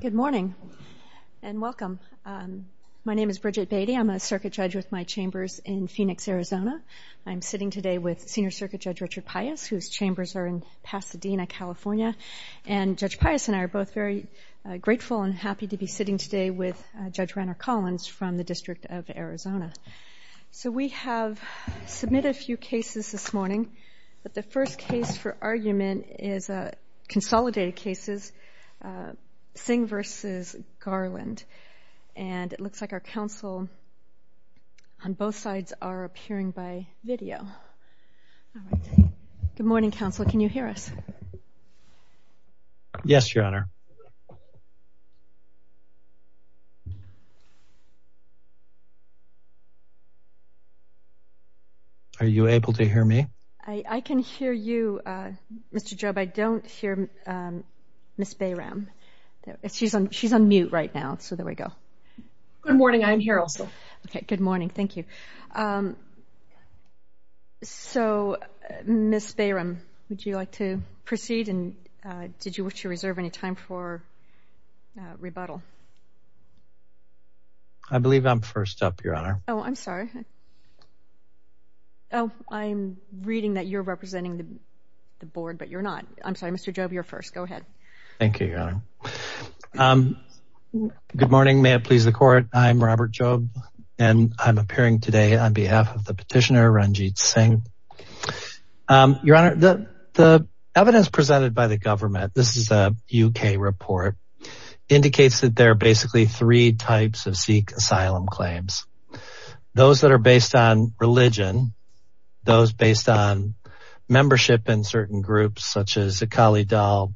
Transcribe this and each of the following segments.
Good morning and welcome. My name is Bridget Beattie. I'm a circuit judge with my chambers in Phoenix, Arizona. I'm sitting today with Senior Circuit Judge Richard Pius, whose chambers are in Pasadena, California. Judge Pius and I are both very grateful and happy to be sitting today with Judge Renner Collins from the District of Arizona. We have submitted a few cases this morning, but the first case for argument is a consolidated case, Singh v. Garland. And it looks like our counsel on both sides are appearing by video. Good morning, counsel. Can you hear us? Yes, Your Honor. Are you able to hear me? I can hear you, Mr. Behram. She's on mute right now, so there we go. Good morning. I'm here also. Okay. Good morning. Thank you. So, Ms. Behram, would you like to proceed? And did you wish to reserve any time for rebuttal? I believe I'm first up, Your Honor. Oh, I'm sorry. Oh, I'm reading that you're on mute. Thank you, Your Honor. Good morning. May it please the court. I'm Robert Jobe, and I'm appearing today on behalf of the petitioner, Ranjit Singh. Your Honor, the evidence presented by the government, this is a UK report, indicates that there are basically three types of Sikh asylum claims. Those that are based on religion, those based on membership in certain groups, such as Kali Dal,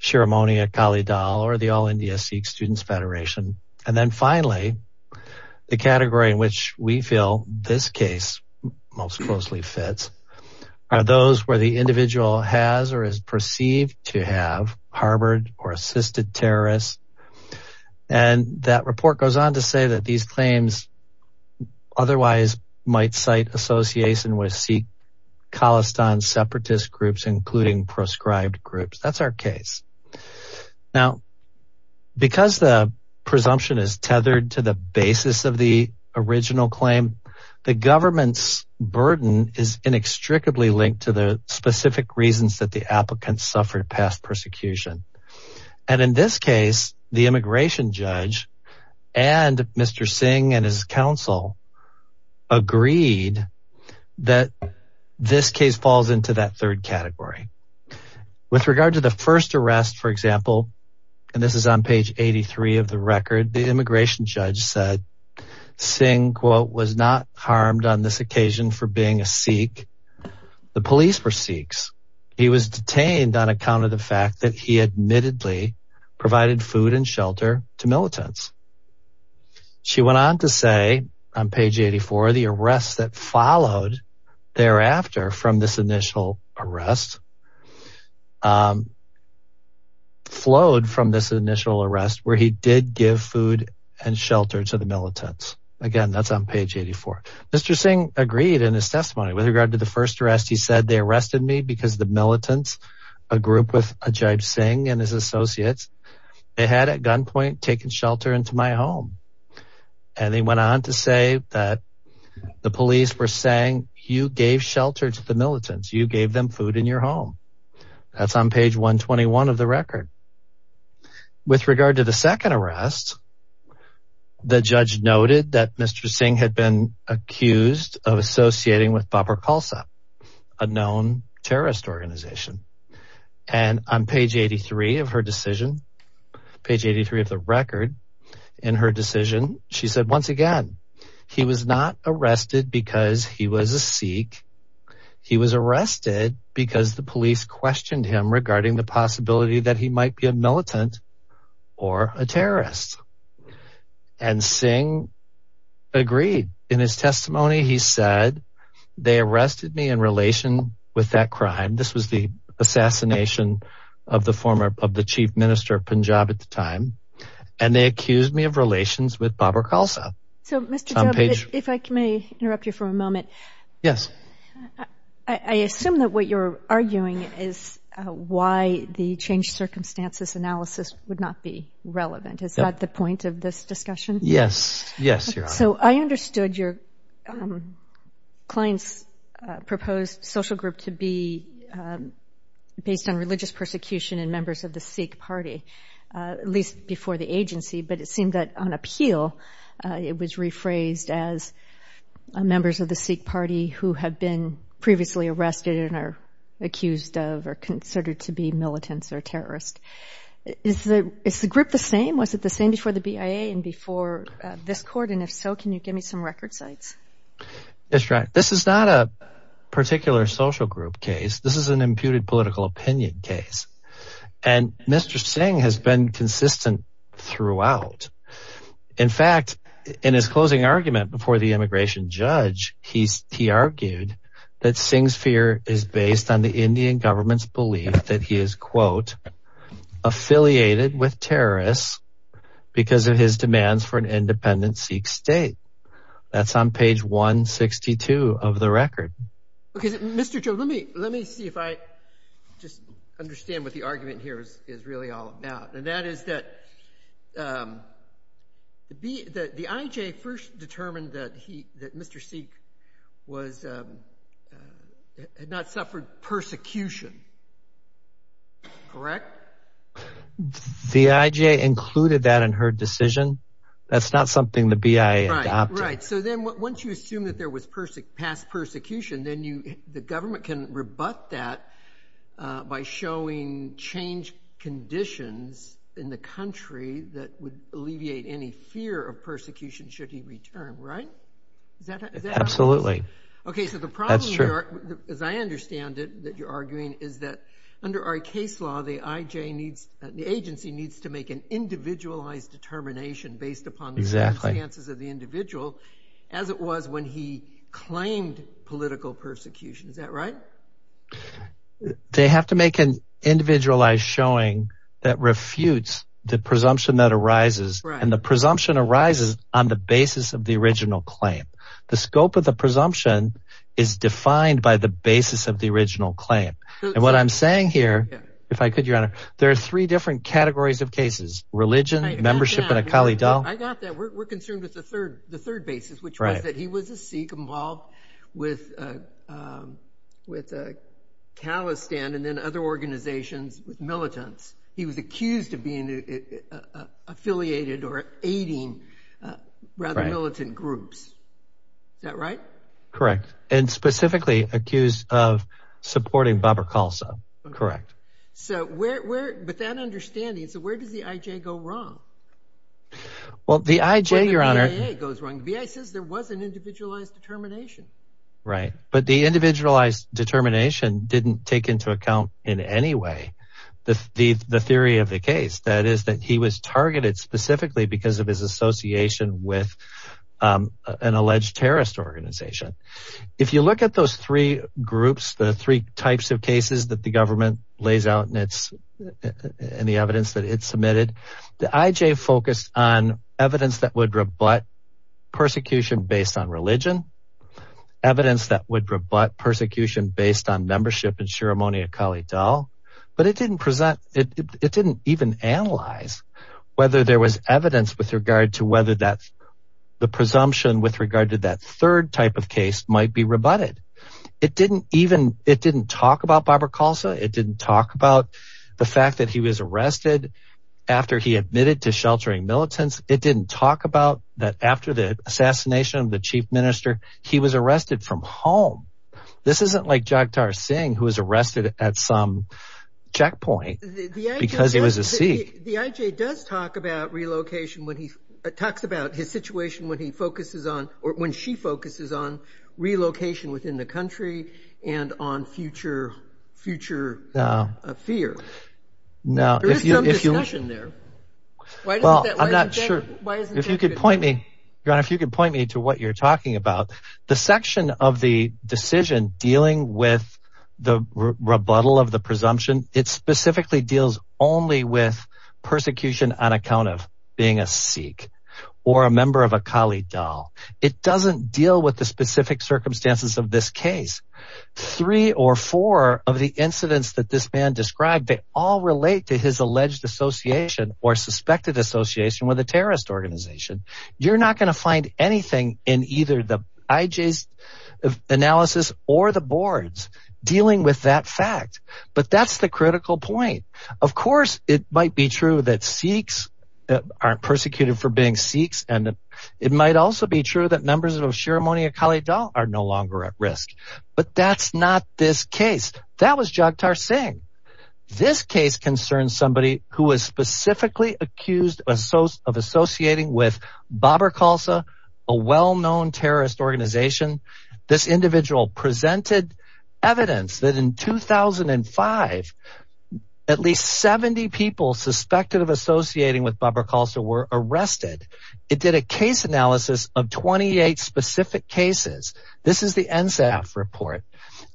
Sheremonia Kali Dal, or the All India Sikh Students Federation. And then finally, the category in which we feel this case most closely fits are those where the individual has or is perceived to have harbored or assisted terrorists. And that report goes on to say that these claims otherwise might cite association with Sikh Khalistan separatist groups, including proscribed groups. That's our case. Now, because the presumption is tethered to the basis of the original claim, the government's burden is inextricably linked to the specific reasons that the applicants suffered past persecution. And in this case, the immigration judge and Mr. Singh and his counsel agreed that this case falls into that third category. With regard to the first arrest, for example, and this is on page 83 of the record, the immigration judge said, Singh, quote, was not harmed on this occasion for being a Sikh. The police were Sikhs. He was detained on account of the fact that he admittedly provided food and shelter to militants. She went on to say on page 84, the arrests that followed thereafter from this initial arrest flowed from this initial arrest where he did give food and shelter to the militants. Again, that's on page 84. Mr. Singh agreed in his testimony with regard to the first arrest. He said they arrested me because the militants, a group with Ajay Singh and his associates, they had at gunpoint taken shelter into my home. And they went on to say that the police were saying you gave shelter to the militants. You gave them food in your home. That's on page 121 of the record. With regard to the second arrest, the judge noted that Mr. Singh had been accused of associating with Babur Khalsa, a known terrorist organization. And on page 83 of her decision, page 83 of the record in her decision, she said once again, he was not arrested because he was a Sikh. He was arrested because the police questioned him regarding the possibility that he might be a they arrested me in relation with that crime. This was the assassination of the former of the chief minister of Punjab at the time. And they accused me of relations with Babur Khalsa. So Mr. if I may interrupt you for a moment. Yes. I assume that what you're arguing is why the change circumstances analysis would not be relevant. Is that the point of this discussion? Yes. Yes. So I understood your clients proposed social group to be based on religious persecution and members of the Sikh party, at least before the agency, but it seemed that on appeal, it was rephrased as members of the Sikh party who have been previously arrested and are accused of are considered to be militants or terrorists. Is the is the group the same? Was it the same before the BIA and before this court? And if so, can you give me some record sites? That's right. This is not a particular social group case. This is an imputed political opinion case. And Mr. Singh has been consistent throughout. In fact, in his closing argument before the immigration judge, he's he argued that Singh's fear is based on the Indian government's that he is, quote, affiliated with terrorists because of his demands for an independent Sikh state. That's on page 162 of the record. OK, Mr. Joe, let me let me see if I just understand what the argument here is really all about. And that is that the IJ first determined that he that Mr. Sikh was had not suffered persecution. Correct? The IJ included that in her decision. That's not something the BIA adopted. Right. So then once you assume that there was past persecution, then you the government can rebut that by showing change conditions in the country that would alleviate any fear of persecution should he return. Right. Absolutely. OK, so the problem, as I understand it, that you're arguing is that under our case law, the IJ needs the agency needs to make an individualized determination based upon the exact chances of the individual as it was when he was there. They have to make an individualized showing that refutes the presumption that arises and the presumption arises on the basis of the original claim. The scope of the presumption is defined by the basis of the original claim. And what I'm saying here, if I could, your honor, there are three different categories of cases, religion, membership and a colleague. I got that. We're concerned with the third the third basis, which is that he was a Sikh involved with with a callous stand and then other organizations with militants. He was accused of being affiliated or aiding rather militant groups. That right. Correct. And specifically accused of supporting Barbara Khalsa. Correct. So where but that understanding. So where does the IJ go wrong? Well, the IJ, your honor, goes wrong. The BIA says there was an individualized determination. Right. But the individualized determination didn't take into account in any way the theory of the case, that is, that he was targeted specifically because of his association with an alleged terrorist organization. If you look at those three groups, the three types of cases that the government lays out in its in the evidence that it submitted, the IJ focused on evidence that would rebut persecution based on religion, evidence that would rebut persecution based on membership and ceremony, a colleague. But it didn't present it. It didn't even analyze whether there was evidence with regard to whether that's the presumption with regard to that third type of case might be rebutted. It didn't even it didn't talk about Barbara Khalsa. It didn't talk about the fact that he was arrested after he admitted to sheltering militants. It didn't talk about that after the assassination of the chief minister, he was arrested from home. This isn't like Jagtar Singh, who was arrested at some checkpoint because it was a seat. The IJ does talk about relocation when he talks about his situation, when he focuses on or when she focuses on relocation within the country and on future future fear. Now, if you listen there. Well, I'm not sure if you could point me if you could point me to what you're talking about. The section of the decision dealing with the rebuttal of the presumption, it specifically deals only with persecution on account of being a Sikh or a member of a colleague. It doesn't deal with the specific circumstances of this case. Three or four of the incidents that this man described, they all relate to his alleged association or suspected association with a terrorist organization. You're not going to find anything in either the IJ analysis or the boards dealing with that fact. But that's the critical point. Of course, it might be true that Sikhs aren't persecuted for being Sikhs. And it might also be true that members of Sheremoniya Khalid are no longer at risk. But that's not this case. That was Jagtar Singh. This case concerns somebody who is specifically accused of associating with Babur Khalsa, a well-known terrorist organization. This individual presented evidence that in 2005, at least 70 people suspected of associating with Babur Khalsa were arrested. It did a case analysis of 28 specific cases. This is the NSAF report.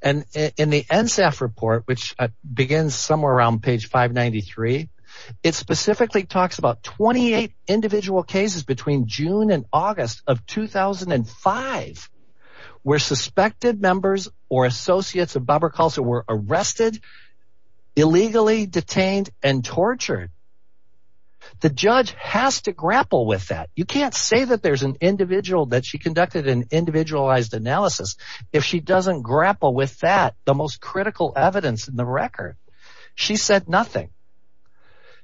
And in the NSAF report, which begins somewhere around page 593, it specifically talks about 28 individual cases between June and August of 2005, where suspected members or associates of Babur Khalsa were arrested, illegally detained and tortured. The judge has to grapple with that. You can't say that there's an individual that she conducted an individualized analysis if she doesn't grapple with that. The most critical evidence in the record. She said nothing.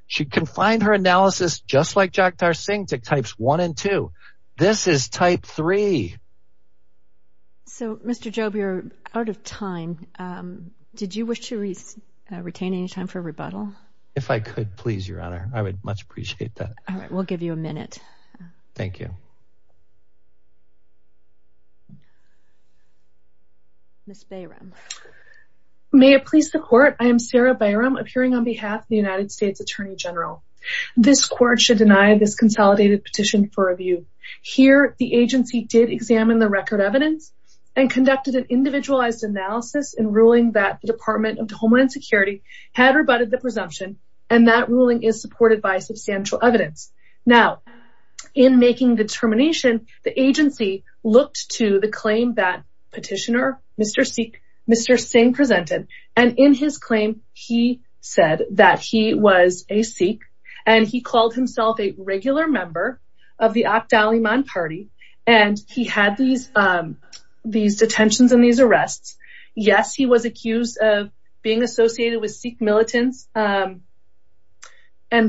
She confined her analysis just like Jagtar Singh types one and two. This is type three. So, Mr. Jobe, you're out of time. Did you wish to retain any time for rebuttal? If I could, please, Your Honor, I would much appreciate that. All right. We'll give you a minute. Thank you. Ms. Bayram. May it please the court. I am Sarah Bayram appearing on behalf of the United States Attorney General. This court should deny this consolidated petition for review. Here, the agency did examine the record evidence and conducted an individualized analysis in ruling that the Department of Homeland Security had rebutted the presumption. And that ruling is supported by substantial evidence. Now, in making determination, the agency looked to the claim that petitioner, Mr. Singh presented. And in his claim, he said that he was a Sikh. And he called himself a regular member of the Akhtar-e-Man party. And he had these detentions and these arrests. Yes, he was accused of being associated with Sikh militants. And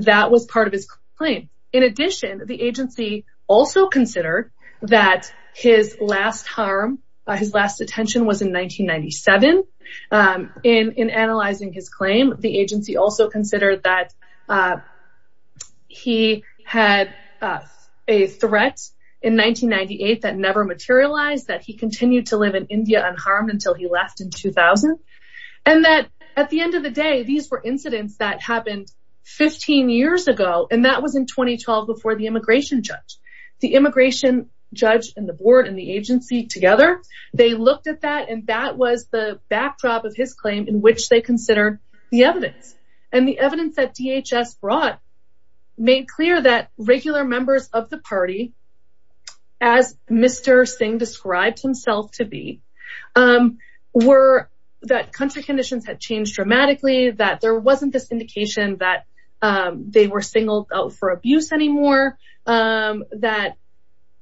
that was part of his claim. In addition, the agency also considered that his last harm, his last detention was in 1997. In analyzing his claim, the agency also considered that he had a threat in 1998 that never materialized, that he continued to live in India unharmed until he left in 2000. And that at the end of the day, these were incidents that happened 15 years ago. And that was in 2012, before the immigration judge, the immigration judge and the board and agency together, they looked at that. And that was the backdrop of his claim in which they consider the evidence. And the evidence that DHS brought, made clear that regular members of the party, as Mr. Singh described himself to be, were that country conditions had changed dramatically, that there wasn't this indication that they were singled out for abuse anymore, that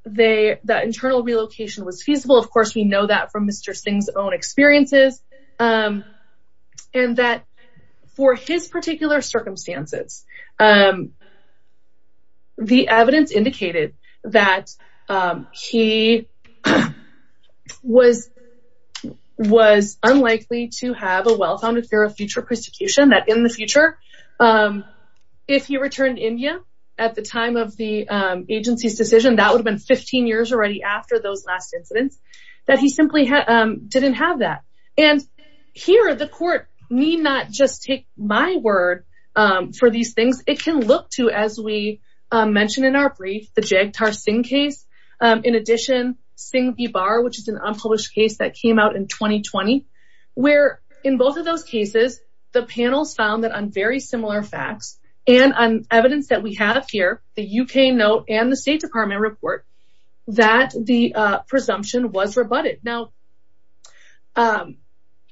internal relocation was feasible. Of course, we know that from Mr. Singh's own experiences. And that for his particular circumstances, the evidence indicated that he was unlikely to have a well-founded fear of future persecution, that in the future, um, if he returned India, at the time of the agency's decision, that would have been 15 years already after those last incidents, that he simply didn't have that. And here, the court need not just take my word for these things, it can look to as we mentioned in our brief, the Jagtar Singh case. In addition, Singh v. Barr, which is an unpublished case that came out in 2020, where in both of those cases, the panels found that on very similar facts, and on evidence that we have here, the UK note and the State Department report, that the presumption was rebutted. Now,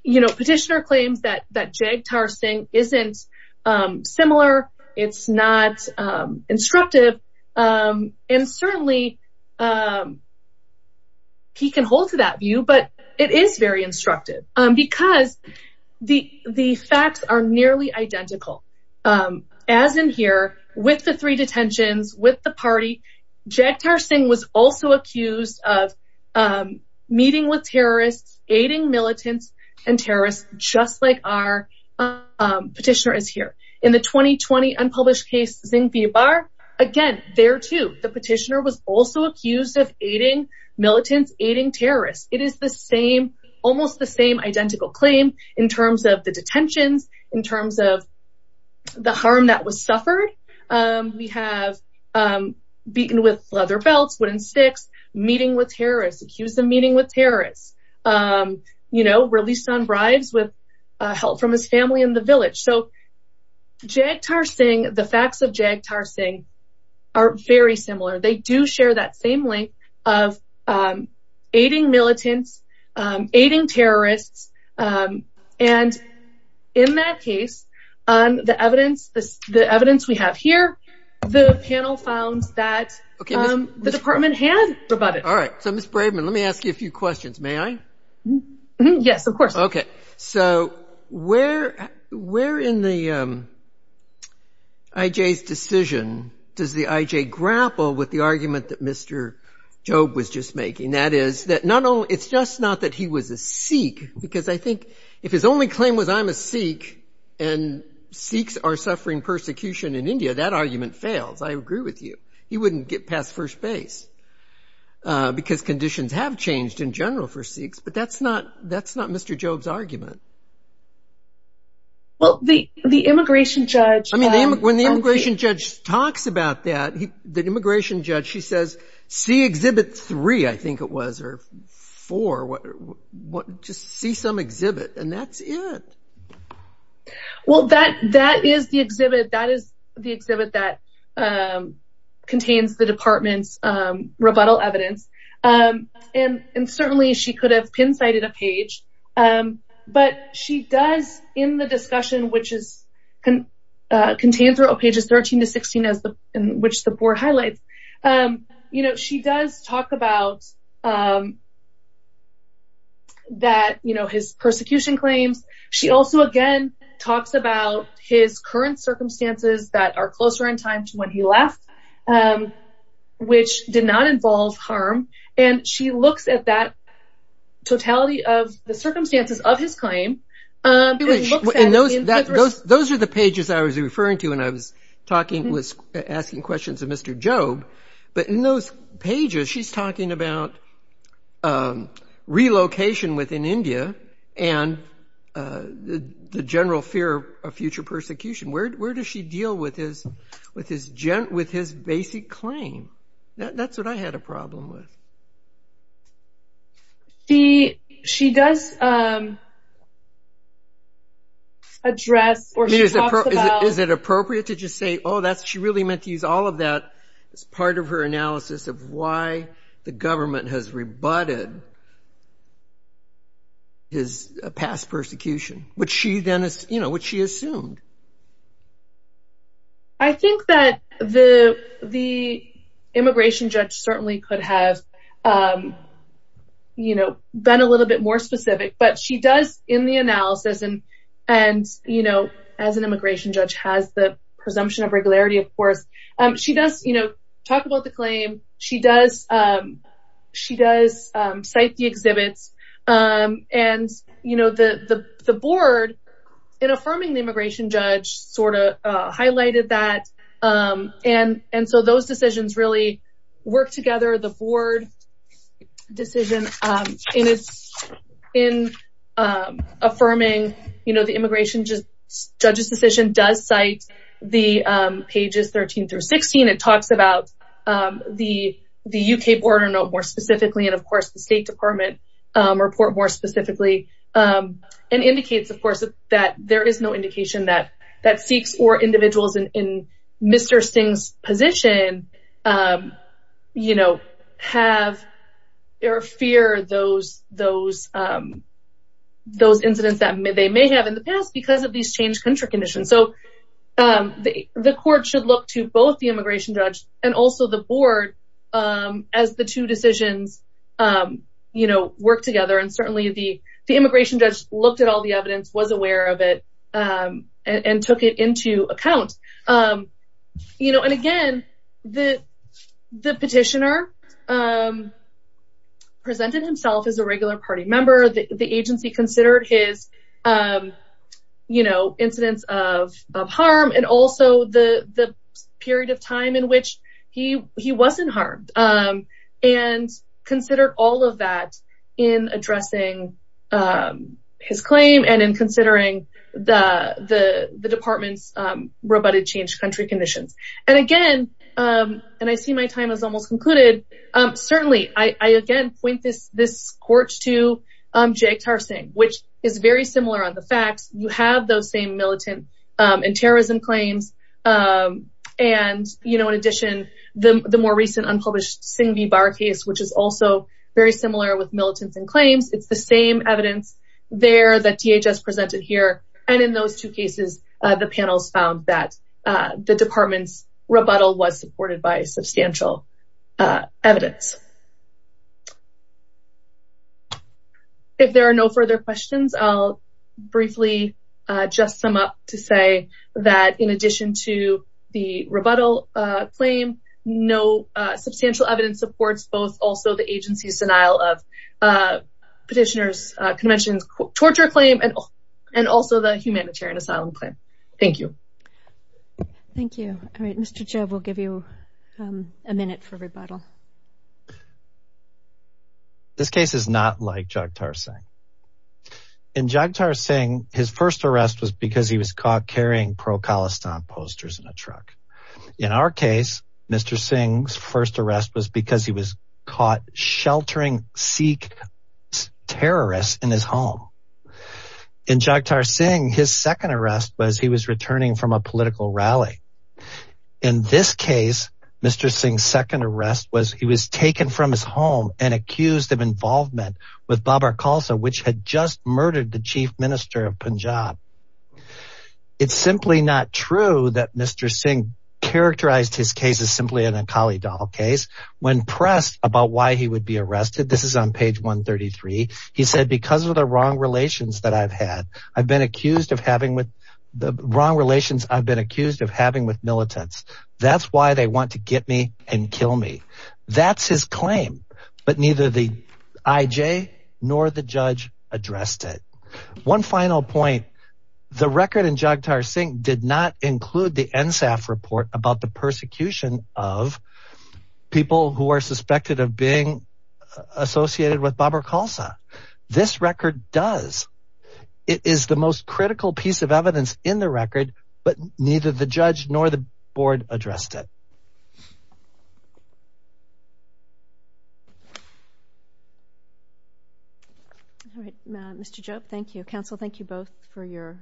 you know, petitioner claims that Jagtar Singh isn't similar. It's not instructive. And certainly, he can hold to that view, but it is very instructive. Because the facts are nearly identical. As in here, with the three detentions, with the party, Jagtar Singh was also accused of meeting with terrorists, aiding militants, and terrorists, just like our petitioner is here. In the 2020 unpublished case, Singh v. Barr, again, there too, the petitioner was also accused of aiding militants, aiding terrorists. It is the same, almost the same identical claim in terms of the detentions, in terms of the harm that was suffered. We have beaten with leather belts, wooden sticks, meeting with terrorists, accused of meeting with terrorists, you know, released on bribes with help from his family in the village. So Jagtar Singh, the facts of Jagtar Singh are very similar. They do share that same link of aiding militants, aiding terrorists. And in that case, on the evidence, the evidence we have here, the panel found that the department had rebutted. All right. So Ms. Braveman, let me ask you a few questions. May I? Yes, of course. Okay. So where in the IJ's decision does the IJ grapple with the argument that Mr. Jobe was just making? That is, that not only, it's just not that he was a Sikh, because I think if his only claim was, I'm a Sikh, and Sikhs are suffering persecution in India, that argument fails. I agree with you. He wouldn't get past first base, because conditions have changed in general for Sikhs. But that's not Mr. Jobe's argument. Well, the immigration judge... I mean, when the immigration judge talks about that, the immigration judge, she says, see exhibit three, I think it was, or four, just see some exhibit, and that's it. Well, that is the exhibit. That is the exhibit that contains the department's rebuttal evidence. And certainly, she could have pin-sighted a page. But she does, in the discussion, which is contained throughout pages 13 to 16, which the board highlights, you know, she does talk about that, you know, his persecution claims. She also, again, talks about his current circumstances that are closer in time to when he left, which did not involve harm. And she looks at that totality of the circumstances of his claim. And those are the pages I was referring to when I was asking questions of Mr. Jobe. But in those pages, she's talking about relocation within India, and the general fear of future persecution. Where does she deal with his basic claim? That's what I had a problem with. See, she does address, or she talks about- Is it appropriate to just say, oh, that's, she really meant to use all of that as part of her analysis of why the government has rebutted his past persecution, which she then, you know, which she assumed. I think that the immigration judge certainly could have, you know, been a little bit more specific, but she does in the analysis and, you know, as an immigration judge has the presumption of regularity, of course, she does, you know, talk about the claim, she does, cite the exhibits. And, you know, the board, in affirming the immigration judge, sort of highlighted that. And so those decisions really work together. The board decision in affirming, you know, the immigration judge's decision does cite the pages 13 through 16. It talks about the UK border note more specifically, and of course, the State Department report more specifically, and indicates, of course, that there is no indication that Sikhs or individuals in Mr. Singh's position, you know, have or fear those incidents that they may have in the past because of these changed country conditions. So the court should look to both the immigration judge and also the board as the two decisions, you know, work together. And certainly the immigration judge looked at all the evidence, was aware of it, and took it into account. You know, and again, the petitioner presented himself as a regular party member, the agency considered his, you know, incidents of harm, and also the period of time in which he wasn't harmed, and considered all of that in addressing his claim and in considering the department's rebutted changed country conditions. And again, and I see my time is almost concluded. Certainly, I again, point this court to which is very similar on the facts, you have those same militant and terrorism claims. And, you know, in addition, the more recent unpublished Singh v. Barr case, which is also very similar with militants and claims, it's the same evidence there that DHS presented here. And in those two cases, the panels found that the department's rebuttal was supported by substantial evidence. If there are no further questions, I'll briefly just sum up to say that in addition to the rebuttal claim, no substantial evidence supports both also the agency's denial of petitioners conventions, torture claim, and also the humanitarian asylum claim. Thank you. Thank you. All right, Mr. Jove, we'll give you a minute for rebuttal. This case is not like Jagtar Singh. In Jagtar Singh, his first arrest was because he was caught carrying pro-Khalistan posters in a truck. In our case, Mr. Singh's first arrest was because he was caught sheltering Sikh terrorists in his home. In Jagtar Singh, his second arrest was he was returning from a political rally. In this case, Mr. Singh's second arrest was he was taken from his home and accused of involvement with Babar Khalsa, which had just murdered the chief minister of Punjab. It's simply not true that Mr. Singh characterized his case as simply an Akali Dahl case. When pressed about why he would be arrested, this is on page 133, he said, because of the wrong relations that I've had, I've been accused of having with the wrong relations I've been accused of having with militants. That's why they want to get me and kill me. That's his claim, but neither the IJ nor the judge addressed it. One final point. The record in Jagtar Singh did not include the NSAF report about the persecution of people who are suspected of being associated with Babar Khalsa. This record does. It is the most critical piece of evidence in the record, but neither the judge nor the board addressed it. All right, Mr. Jobe, thank you. Counsel, thank you both for your